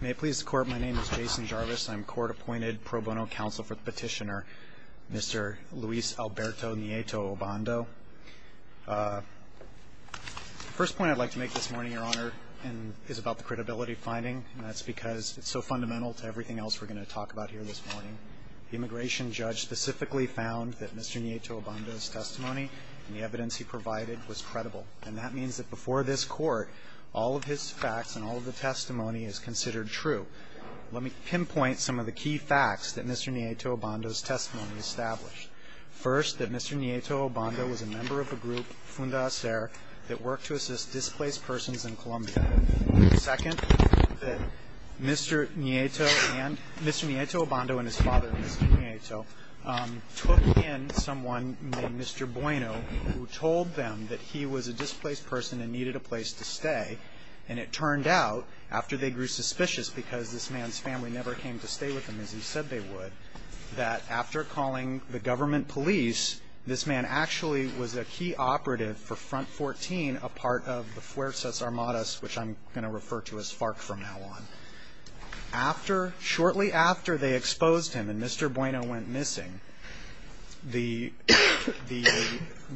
May it please the Court, my name is Jason Jarvis. I'm Court-Appointed Pro Bono Counsel for the Petitioner, Mr. Luis Alberto Nieto-Obando. The first point I'd like to make this morning, Your Honor, is about the credibility finding. And that's because it's so fundamental to everything else we're going to talk about here this morning. The immigration judge specifically found that Mr. Nieto-Obando's testimony and the evidence he provided was credible. And that means that before this Court, all of his facts and all of the testimony is considered true. Let me pinpoint some of the key facts that Mr. Nieto-Obando's testimony established. First, that Mr. Nieto-Obando was a member of a group, Fundacere, that worked to assist displaced persons in Colombia. Second, that Mr. Nieto-Obando and his father, Mr. Nieto, took in someone named Mr. Bueno, who told them that he was a displaced person and needed a place to stay. And it turned out, after they grew suspicious because this man's family never came to stay with him as he said they would, that after calling the government police, this man actually was a key operative for Front 14, a part of the Fuerzas Armadas, which I'm going to refer to as FARC from now on. Shortly after they exposed him and Mr. Bueno went missing, the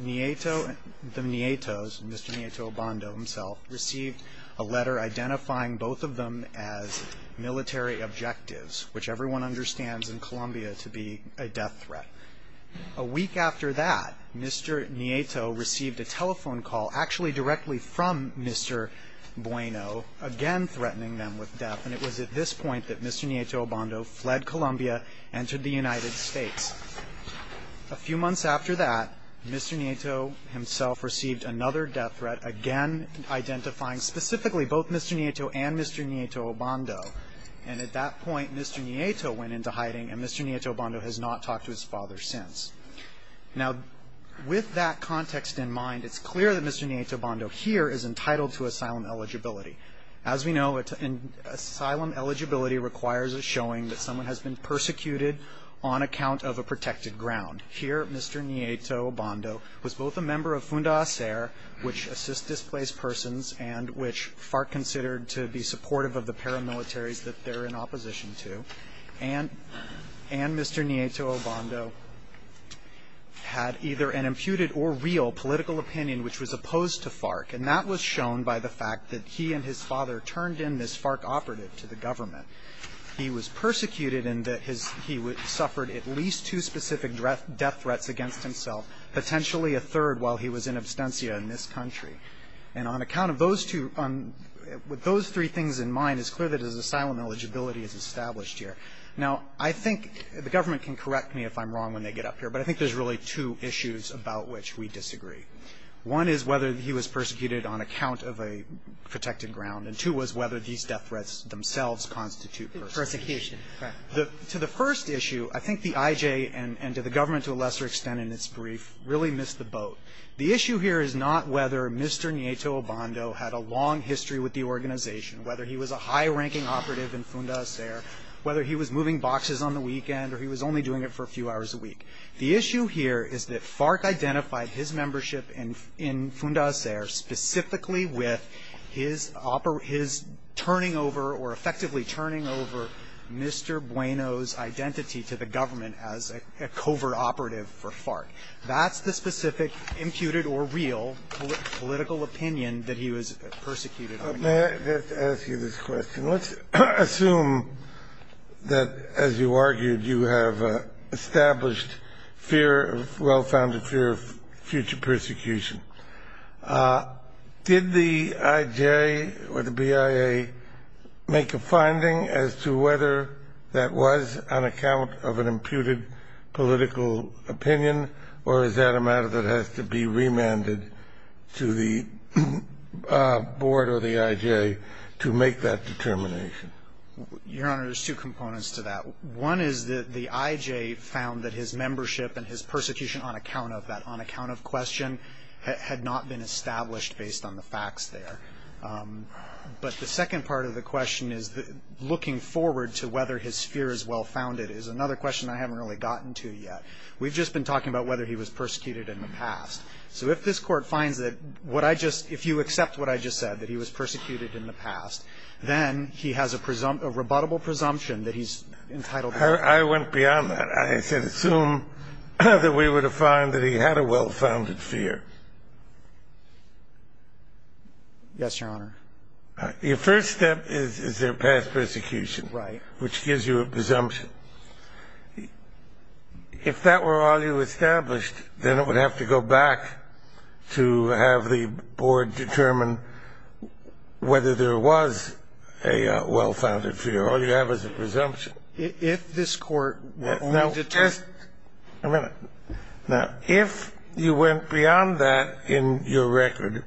Nietos, Mr. Nieto-Obando himself, received a letter identifying both of them as military objectives, which everyone understands in Colombia to be a death threat. A week after that, Mr. Nieto received a telephone call, actually directly from Mr. Bueno, again threatening them with death, and it was at this point that Mr. Nieto-Obando fled Colombia and entered the United States. A few months after that, Mr. Nieto himself received another death threat, again identifying specifically both Mr. Nieto and Mr. Nieto-Obando. And at that point, Mr. Nieto went into hiding, and Mr. Nieto-Obando has not talked to his father since. Now, with that context in mind, it's clear that Mr. Nieto-Obando here is entitled to asylum eligibility. As we know, asylum eligibility requires a showing that someone has been persecuted on account of a protected ground. Here, Mr. Nieto-Obando was both a member of FUNDACER, which assists displaced persons, and which FARC considered to be supportive of the paramilitaries that they're in opposition to, and Mr. Nieto-Obando had either an imputed or real political opinion which was opposed to FARC, and that was shown by the fact that he and his father turned in this FARC operative to the government. He was persecuted in that he suffered at least two specific death threats against himself, potentially a third while he was in absentia in this country. And on account of those two, with those three things in mind, it's clear that his asylum eligibility is established here. Now, I think the government can correct me if I'm wrong when they get up here, but I think there's really two issues about which we disagree. One is whether he was persecuted on account of a protected ground, and two was whether these death threats themselves constitute persecution. To the first issue, I think the IJ and to the government to a lesser extent in its brief really missed the boat. The issue here is not whether Mr. Nieto-Obando had a long history with the organization, whether he was a high-ranking operative in Funda Acer, whether he was moving boxes on the weekend, or he was only doing it for a few hours a week. The issue here is that FARC identified his membership in Funda Acer specifically with his turning over or effectively turning over Mr. Bueno's identity to the government as a covert operative for FARC. That's the specific imputed or real political opinion that he was persecuted on account of. Kennedy. Let's ask you this question. Let's assume that, as you argued, you have established fear, well-founded fear of future persecution. Did the IJ or the BIA make a finding as to whether that was on account of an imputed political opinion, or is that a matter that has to be remanded to the board or the IJ to make that determination? Your Honor, there's two components to that. One is that the IJ found that his membership and his persecution on account of that, on account of question, had not been established based on the facts there. But the second part of the question is looking forward to whether his fear is well-founded is another question I haven't really gotten to yet. We've just been talking about whether he was persecuted in the past. So if this Court finds that what I just – if you accept what I just said, that he was persecuted in the past, then he has a presumptive – a rebuttable presumption that he's entitled to. I went beyond that. I said assume that we were to find that he had a well-founded fear. Yes, Your Honor. Your first step is their past persecution. Right. Which gives you a presumption. If that were all you established, then it would have to go back to have the board determine whether there was a well-founded fear. All you have is a presumption. If this Court were to determine – Now, just a minute. Now, if you went beyond that in your record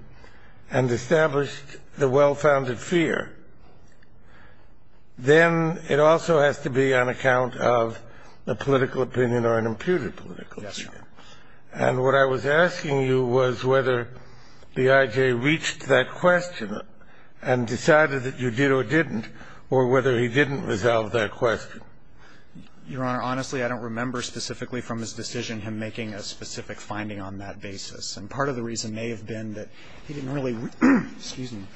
and established the well-founded fear, then it also has to be on account of a political opinion or an imputed political opinion. Yes, Your Honor. And what I was asking you was whether B.I.J. reached that question and decided that you did or didn't, or whether he didn't resolve that question. Your Honor, honestly, I don't remember specifically from his decision him making a specific finding on that basis. And part of the reason may have been that he didn't really – excuse me –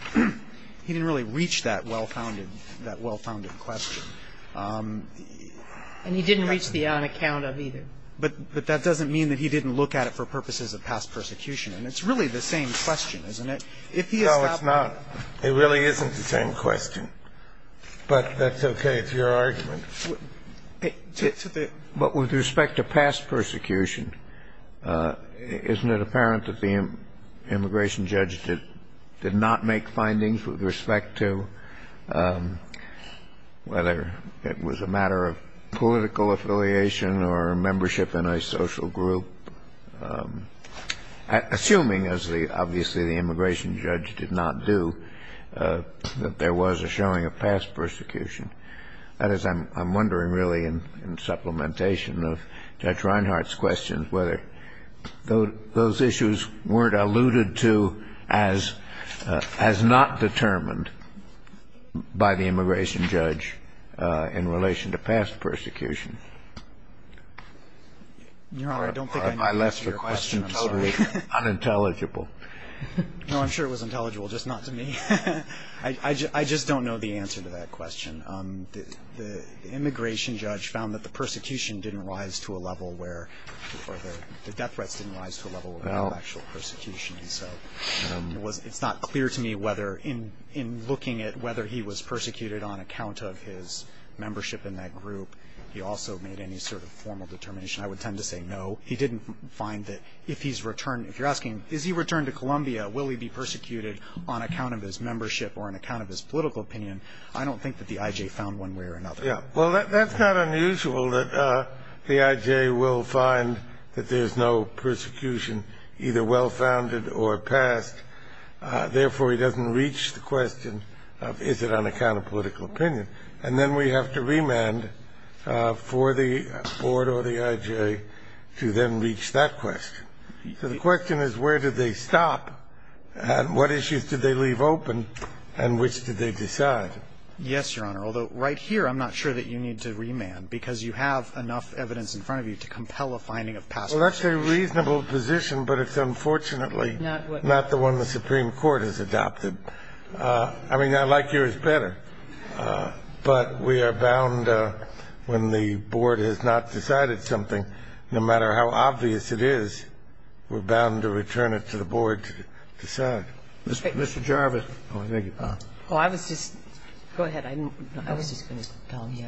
he didn't really reach that well-founded question. And he didn't reach the on account of either. But that doesn't mean that he didn't look at it for purposes of past persecution. And it's really the same question, isn't it? No, it's not. It really isn't the same question. But that's okay. It's your argument. But with respect to past persecution, isn't it apparent that the immigration judge did not make findings with respect to whether it was a matter of political affiliation or membership in a social group, assuming, as obviously the immigration judge did not do, that there was a showing of past persecution? That is, I'm wondering really in supplementation of Judge Reinhart's questions whether those issues weren't alluded to as not determined by the immigration judge in relation to past persecution. Your Honor, I don't think I need to answer your question. I left the question totally unintelligible. No, I'm sure it was intelligible, just not to me. I just don't know the answer to that question. The immigration judge found that the persecution didn't rise to a level where or the death threats didn't rise to a level of actual persecution. And so it's not clear to me whether in looking at whether he was persecuted on account of his membership in that group, he also made any sort of formal determination. I would tend to say no. He didn't find that if he's returned – if you're asking, is he returned to Colombia, will he be persecuted on account of his membership or on account of his political opinion? I don't think that the IJ found one way or another. Yeah. Well, that's not unusual that the IJ will find that there's no persecution either well-founded or past. Therefore, he doesn't reach the question of is it on account of political opinion. And then we have to remand for the board or the IJ to then reach that question. So the question is where did they stop and what issues did they leave open and which did they decide? Yes, Your Honor. Although right here, I'm not sure that you need to remand because you have enough evidence in front of you to compel a finding of past persecution. Well, that's a reasonable position, but it's unfortunately not the one the Supreme Court has adopted. I mean, I like yours better. But we are bound when the board has not decided something, no matter how obvious it is, we're bound to return it to the board to decide. Mr. Jarvis. Go ahead. I was just going to tell you.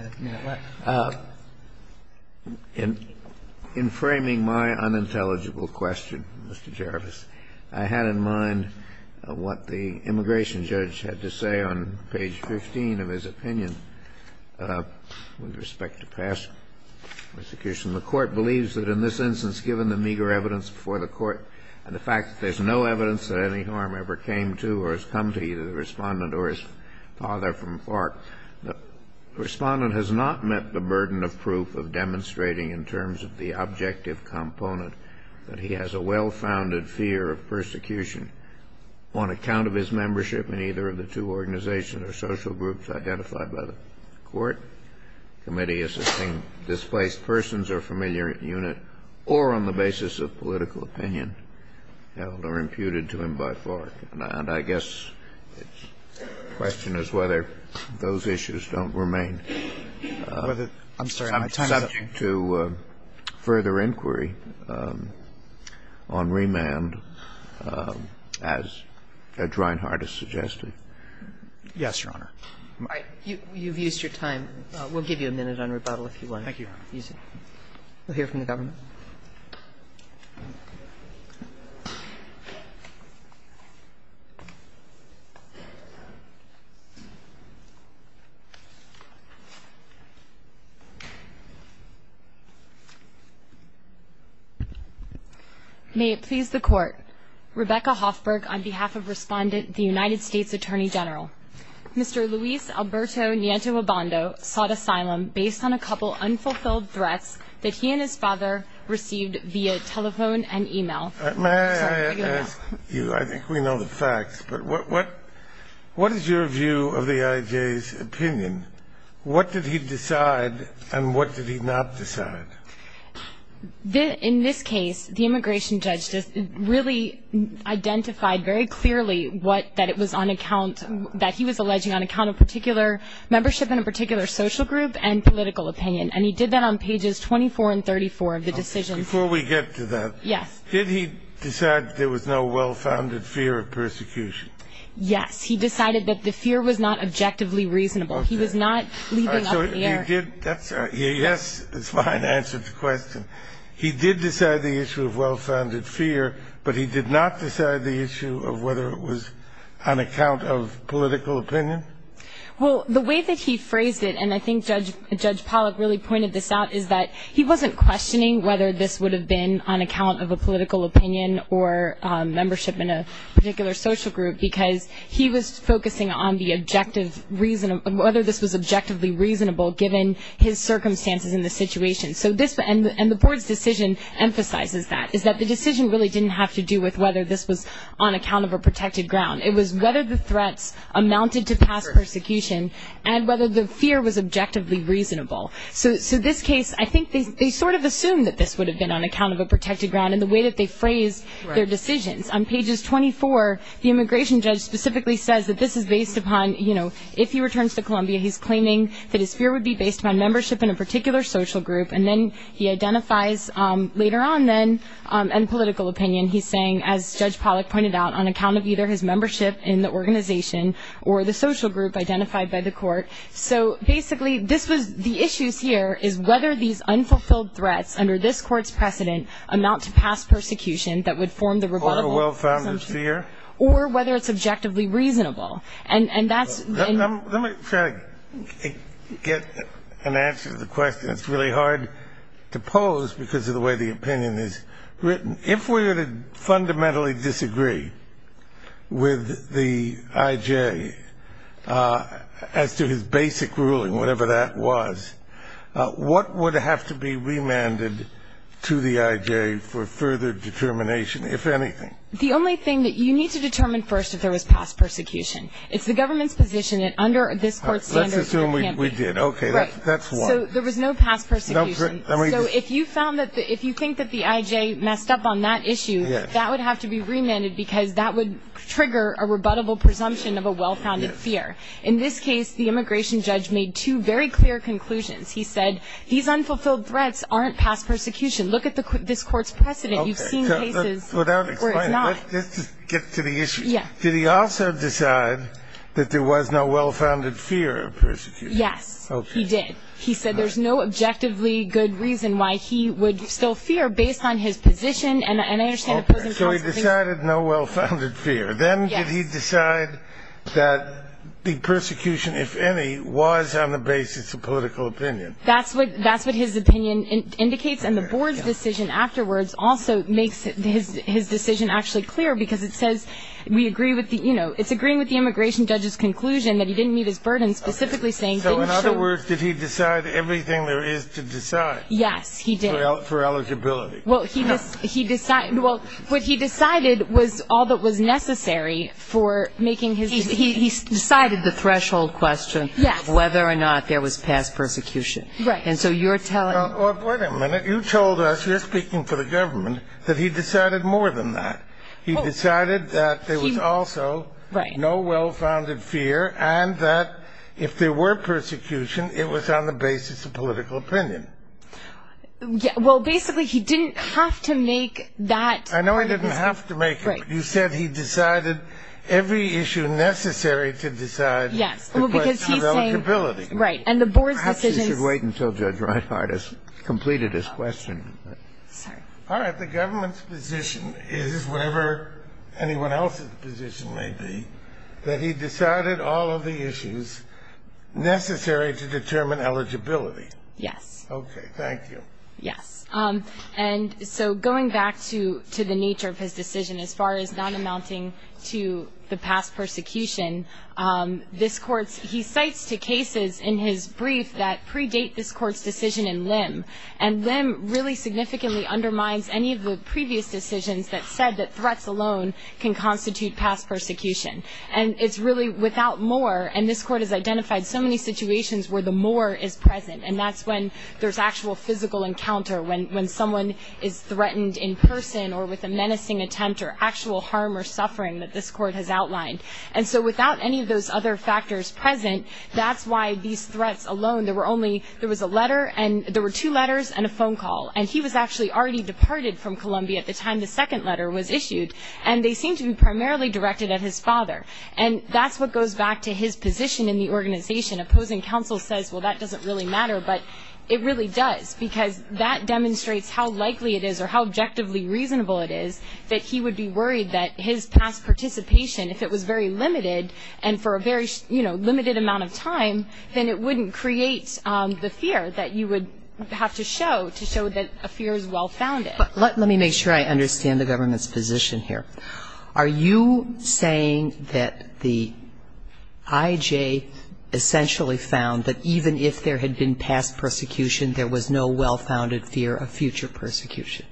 In framing my unintelligible question, Mr. Jarvis, I had in mind what the immigration judge had to say on page 15 of his opinion with respect to past persecution. The Court believes that in this instance, given the meager evidence before the Court and the fact that there's no evidence that any harm ever came to or has come to either the Respondent or his father from FARC, the Respondent has not met the burden of proof of demonstrating in terms of the objective component that he has a well-founded fear of persecution on account of his membership in either of the two organizations or social groups identified by the Court, committee as a displaced persons or familiar unit or on the basis of political opinion held or imputed to him by FARC. And I guess the question is whether those issues don't remain. I'm sorry. I'm subject to further inquiry on remand, as Judge Reinhart has suggested. Yes, Your Honor. You've used your time. We'll give you a minute on rebuttal if you want. Thank you, Your Honor. Easy. We'll hear from the government. May it please the Court. Rebecca Hoffberg on behalf of Respondent, the United States Attorney General. Mr. Luis Alberto Nieto Abando sought asylum based on a couple unfulfilled threats that he and his father received via telephone and e-mail. May I ask you, I think we know the facts, but what is your view of the I.J.'s opinion? What did he decide and what did he not decide? In this case, the immigration judge really identified very clearly that it was on account that he was alleging on account of particular membership in a particular social group and political opinion. And he did that on pages 24 and 34 of the decision. Before we get to that. Yes. Did he decide there was no well-founded fear of persecution? Yes. He decided that the fear was not objectively reasonable. He was not leaving up air. All right. So you did that. Yes is my answer to the question. He did decide the issue of well-founded fear, but he did not decide the issue of whether it was on account of political opinion? Well, the way that he phrased it, and I think Judge Pollack really pointed this out, is that he wasn't questioning whether this would have been on account of a political opinion or membership in a particular social group because he was focusing on the objective reason of whether this was objectively reasonable given his circumstances in the situation. And the board's decision emphasizes that, is that the decision really didn't have to do with whether this was on account of a protected ground. It was whether the threats amounted to past persecution and whether the fear was objectively reasonable. So this case, I think they sort of assumed that this would have been on account of a protected ground in the way that they phrased their decisions. On pages 24, the immigration judge specifically says that this is based upon, you know, if he returns to Columbia, he's claiming that his fear would be based upon membership in a particular social group. And then he identifies later on then, and political opinion, he's saying, as Judge Pollack pointed out, on account of either his membership in the organization or the social group identified by the court. So basically, this was the issues here is whether these unfulfilled threats under this court's precedent amount to past persecution that would form the rebuttal. Or a well-founded fear. Or whether it's objectively reasonable. And that's... Let me try to get an answer to the question. It's really hard to pose because of the way the opinion is written. If we were to fundamentally disagree with the I.J. as to his basic ruling, whatever that was, what would have to be remanded to the I.J. for further determination, if anything? The only thing that you need to determine first if there was past persecution. It's the government's position that under this court's standards, there can't be. Let's assume we did. Okay. Right. That's one. So there was no past persecution. No. So if you think that the I.J. messed up on that issue, that would have to be remanded because that would trigger a rebuttable presumption of a well-founded fear. In this case, the immigration judge made two very clear conclusions. He said these unfulfilled threats aren't past persecution. Look at this court's precedent. You've seen cases where it's not. Let's just get to the issue. Yeah. Did he also decide that there was no well-founded fear of persecution? Yes, he did. Okay. He said there's no objectively good reason why he would still fear based on his position. And I understand the president's position. Okay. So he decided no well-founded fear. Yes. Then did he decide that the persecution, if any, was on the basis of political opinion? That's what his opinion indicates. And the board's decision afterwards also makes his decision actually clear because it says we agree with the, you know, it's agreeing with the immigration judge's conclusion that he didn't meet his burden, So, in other words, did he decide everything there is to decide? Yes, he did. For eligibility. Well, what he decided was all that was necessary for making his decision. He decided the threshold question of whether or not there was past persecution. Right. And so you're telling... Well, wait a minute. You told us, you're speaking for the government, that he decided more than that. He decided that there was also no well-founded fear and that if there were persecution, it was on the basis of political opinion. Well, basically, he didn't have to make that... I know he didn't have to make it. Right. You said he decided every issue necessary to decide. Yes. Well, because he's saying... The question of eligibility. Right. And the board's decision... Perhaps he should wait until Judge Reinhardt has completed his question. Sorry. All right. The government's position is, whatever anyone else's position may be, that he decided all of the issues necessary to determine eligibility. Yes. Okay. Thank you. Yes. And so going back to the nature of his decision, as far as not amounting to the past persecution, this Court's... He cites two cases in his brief that predate this Court's decision in Lim, and Lim really significantly undermines any of the previous decisions that said that threats alone can constitute past persecution. And it's really without more, and this Court has identified so many situations where the more is present, and that's when there's actual physical encounter, when someone is threatened in person or with a menacing attempt or actual harm or suffering that this Court has outlined. And so without any of those other factors present, that's why these threats alone... There were only... There was a letter and... There were two letters and a phone call, and he was actually already departed from Columbia at the time the second letter was issued, and they seem to be primarily directed at his father. And that's what goes back to his position in the organization. Opposing counsel says, well, that doesn't really matter, but it really does, because that demonstrates how likely it is or how objectively reasonable it is that he would be worried that his past participation, if it was very limited, and for a very, you know, limited amount of time, then it wouldn't create the fear that you would have to show to show that a fear is well-founded. Let me make sure I understand the government's position here. Are you saying that the I.J. essentially found that even if there had been past persecution, there was no well-founded fear of future persecution?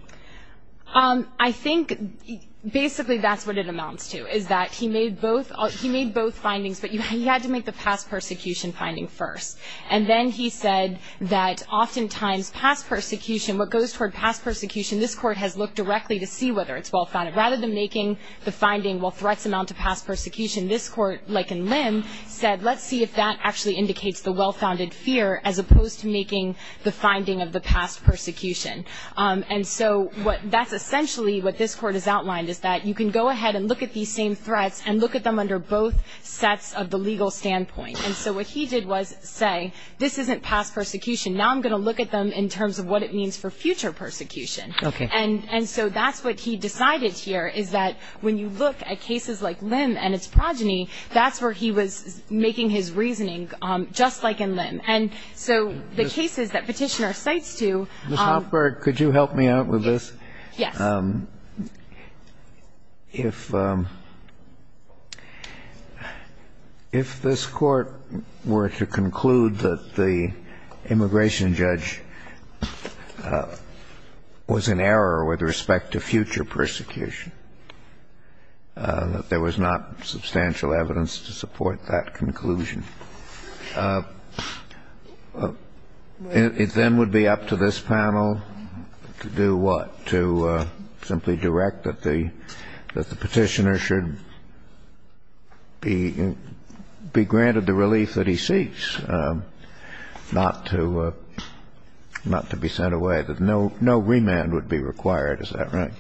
I think basically that's what it amounts to, is that he made both findings, but he had to make the past persecution finding first. And then he said that oftentimes past persecution, what goes toward past persecution, this court has looked directly to see whether it's well-founded. Rather than making the finding, well, threats amount to past persecution, this court, like in Lim, said let's see if that actually indicates the well-founded fear as opposed to making the finding of the past persecution. And so that's essentially what this court has outlined, is that you can go ahead and look at these same threats and look at them under both sets of the legal standpoint. And so what he did was say, this isn't past persecution. Now I'm going to look at them in terms of what it means for future persecution. Okay. And so that's what he decided here, is that when you look at cases like Lim and its progeny, that's where he was making his reasoning, just like in Lim. And so the cases that Petitioner cites to ---- Ms. Hopberg, could you help me out with this? Yes. If this court were to conclude that the immigration judge was in error with respect to future persecution, that there was not substantial evidence to support that conclusion, it then would be up to this panel to do what? To simply direct that the Petitioner should be granted the relief that he seeks, not to be sent away, that no remand would be required. Is that right?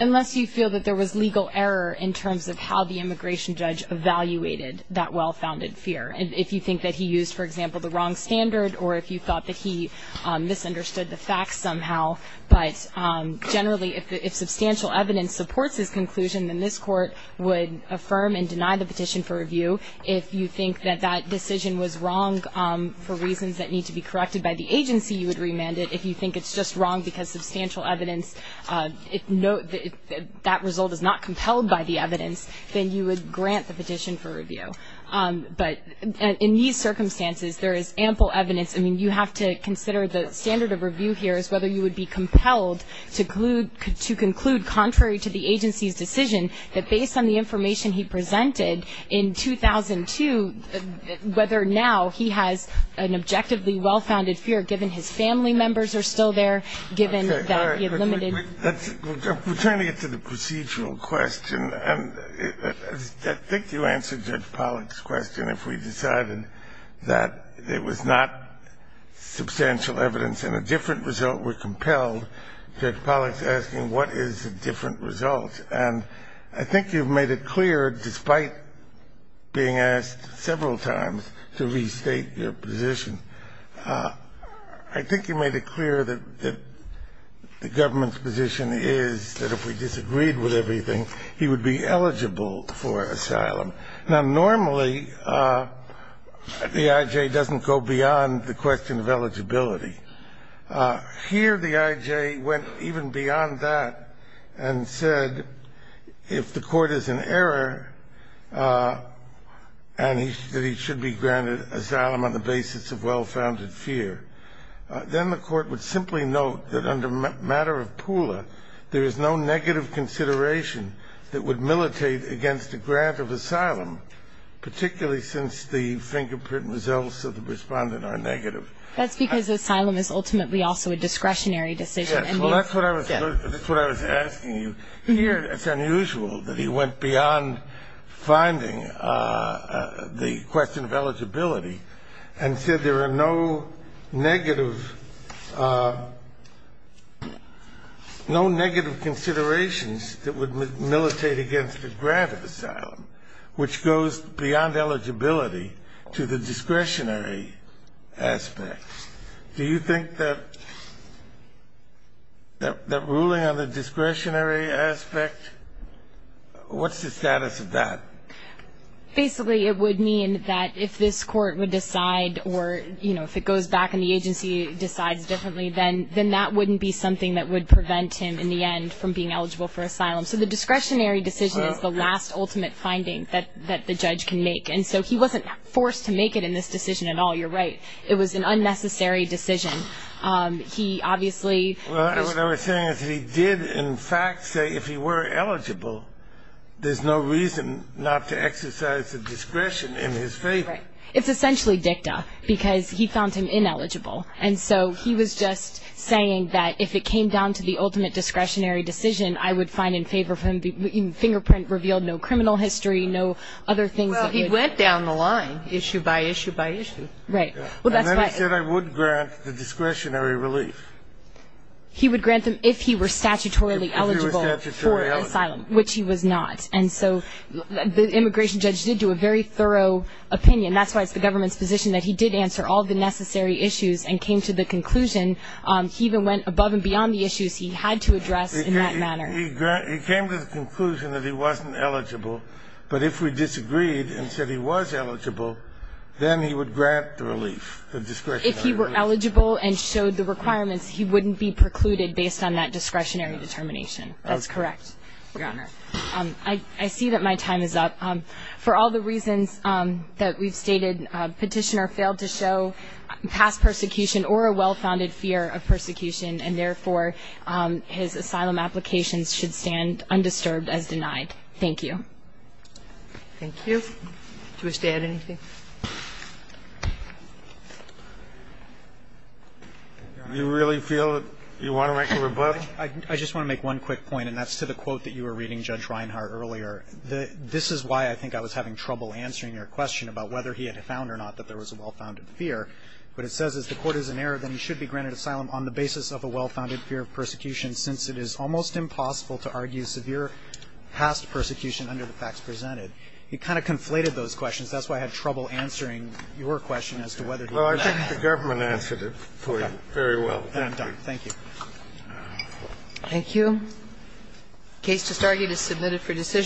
Unless you feel that there was legal error in terms of how the immigration judge evaluated that well-founded fear. If you think that he used, for example, the wrong standard, or if you thought that he misunderstood the facts somehow, but generally if substantial evidence supports his conclusion, then this court would affirm and deny the petition for review. If you think that that decision was wrong for reasons that need to be corrected by the agency, you would remand it. If you think it's just wrong because substantial evidence, that result is not compelled by the evidence, then you would grant the petition for review. But in these circumstances, there is ample evidence. I mean, you have to consider the standard of review here is whether you would be compelled to conclude, contrary to the agency's decision, that based on the information he presented in 2002, whether now he has an objectively well-founded fear, given his family members are still there, given that he had limited. We're turning it to the procedural question. And I think you answered Judge Pollack's question. If we decided that it was not substantial evidence and a different result were compelled, Judge Pollack's asking what is a different result. And I think you've made it clear, despite being asked several times to restate your position, I think you made it clear that the government's position is that if we disagreed with everything, he would be eligible for asylum. Now, normally the I.J. doesn't go beyond the question of eligibility. Here the I.J. went even beyond that and said if the court is in error and that he should be granted asylum on the basis of well-founded fear, then the court would simply note that under matter of Pula there is no negative consideration that would militate against a grant of asylum, particularly since the fingerprint results of the respondent are negative. That's because asylum is ultimately also a discretionary decision. Yes. Well, that's what I was asking you. and said there are no negative considerations that would militate against a grant of asylum, which goes beyond eligibility to the discretionary aspect. Do you think that ruling on the discretionary aspect, what's the status of that? Basically it would mean that if this court would decide or, you know, if it goes back and the agency decides differently, then that wouldn't be something that would prevent him in the end from being eligible for asylum. So the discretionary decision is the last ultimate finding that the judge can make, and so he wasn't forced to make it in this decision at all. You're right. It was an unnecessary decision. He obviously is Well, what I was saying is he did in fact say if he were eligible, there's no reason not to exercise the discretion in his favor. Right. It's essentially dicta because he found him ineligible, and so he was just saying that if it came down to the ultimate discretionary decision, I would find in favor of him. The fingerprint revealed no criminal history, no other things that would Well, he went down the line issue by issue by issue. Right. And then he said I would grant the discretionary relief. He would grant them if he were statutorily eligible for asylum, which he was not, and so the immigration judge did do a very thorough opinion. That's why it's the government's position that he did answer all the necessary issues and came to the conclusion he even went above and beyond the issues he had to address in that manner. He came to the conclusion that he wasn't eligible, but if we disagreed and said he was eligible, then he would grant the relief, the discretionary relief. If he were eligible and showed the requirements, he wouldn't be precluded based on that discretionary determination. That's correct. Your Honor, I see that my time is up. For all the reasons that we've stated, Petitioner failed to show past persecution or a well-founded fear of persecution, and therefore his asylum applications should stand undisturbed as denied. Thank you. Thank you. Do we stay at anything? Do you really feel that you want to make a rebuttal? I just want to make one quick point, and that's to the quote that you were reading, Judge Reinhart, earlier. This is why I think I was having trouble answering your question about whether he had found or not that there was a well-founded fear. What it says is the court is in error, then he should be granted asylum on the basis of a well-founded fear of persecution, since it is almost impossible to argue severe past persecution under the facts presented. It kind of conflated those questions. That's why I had trouble answering your question as to whether he was. Well, I think the government answered it for you very well. Thank you. Thank you.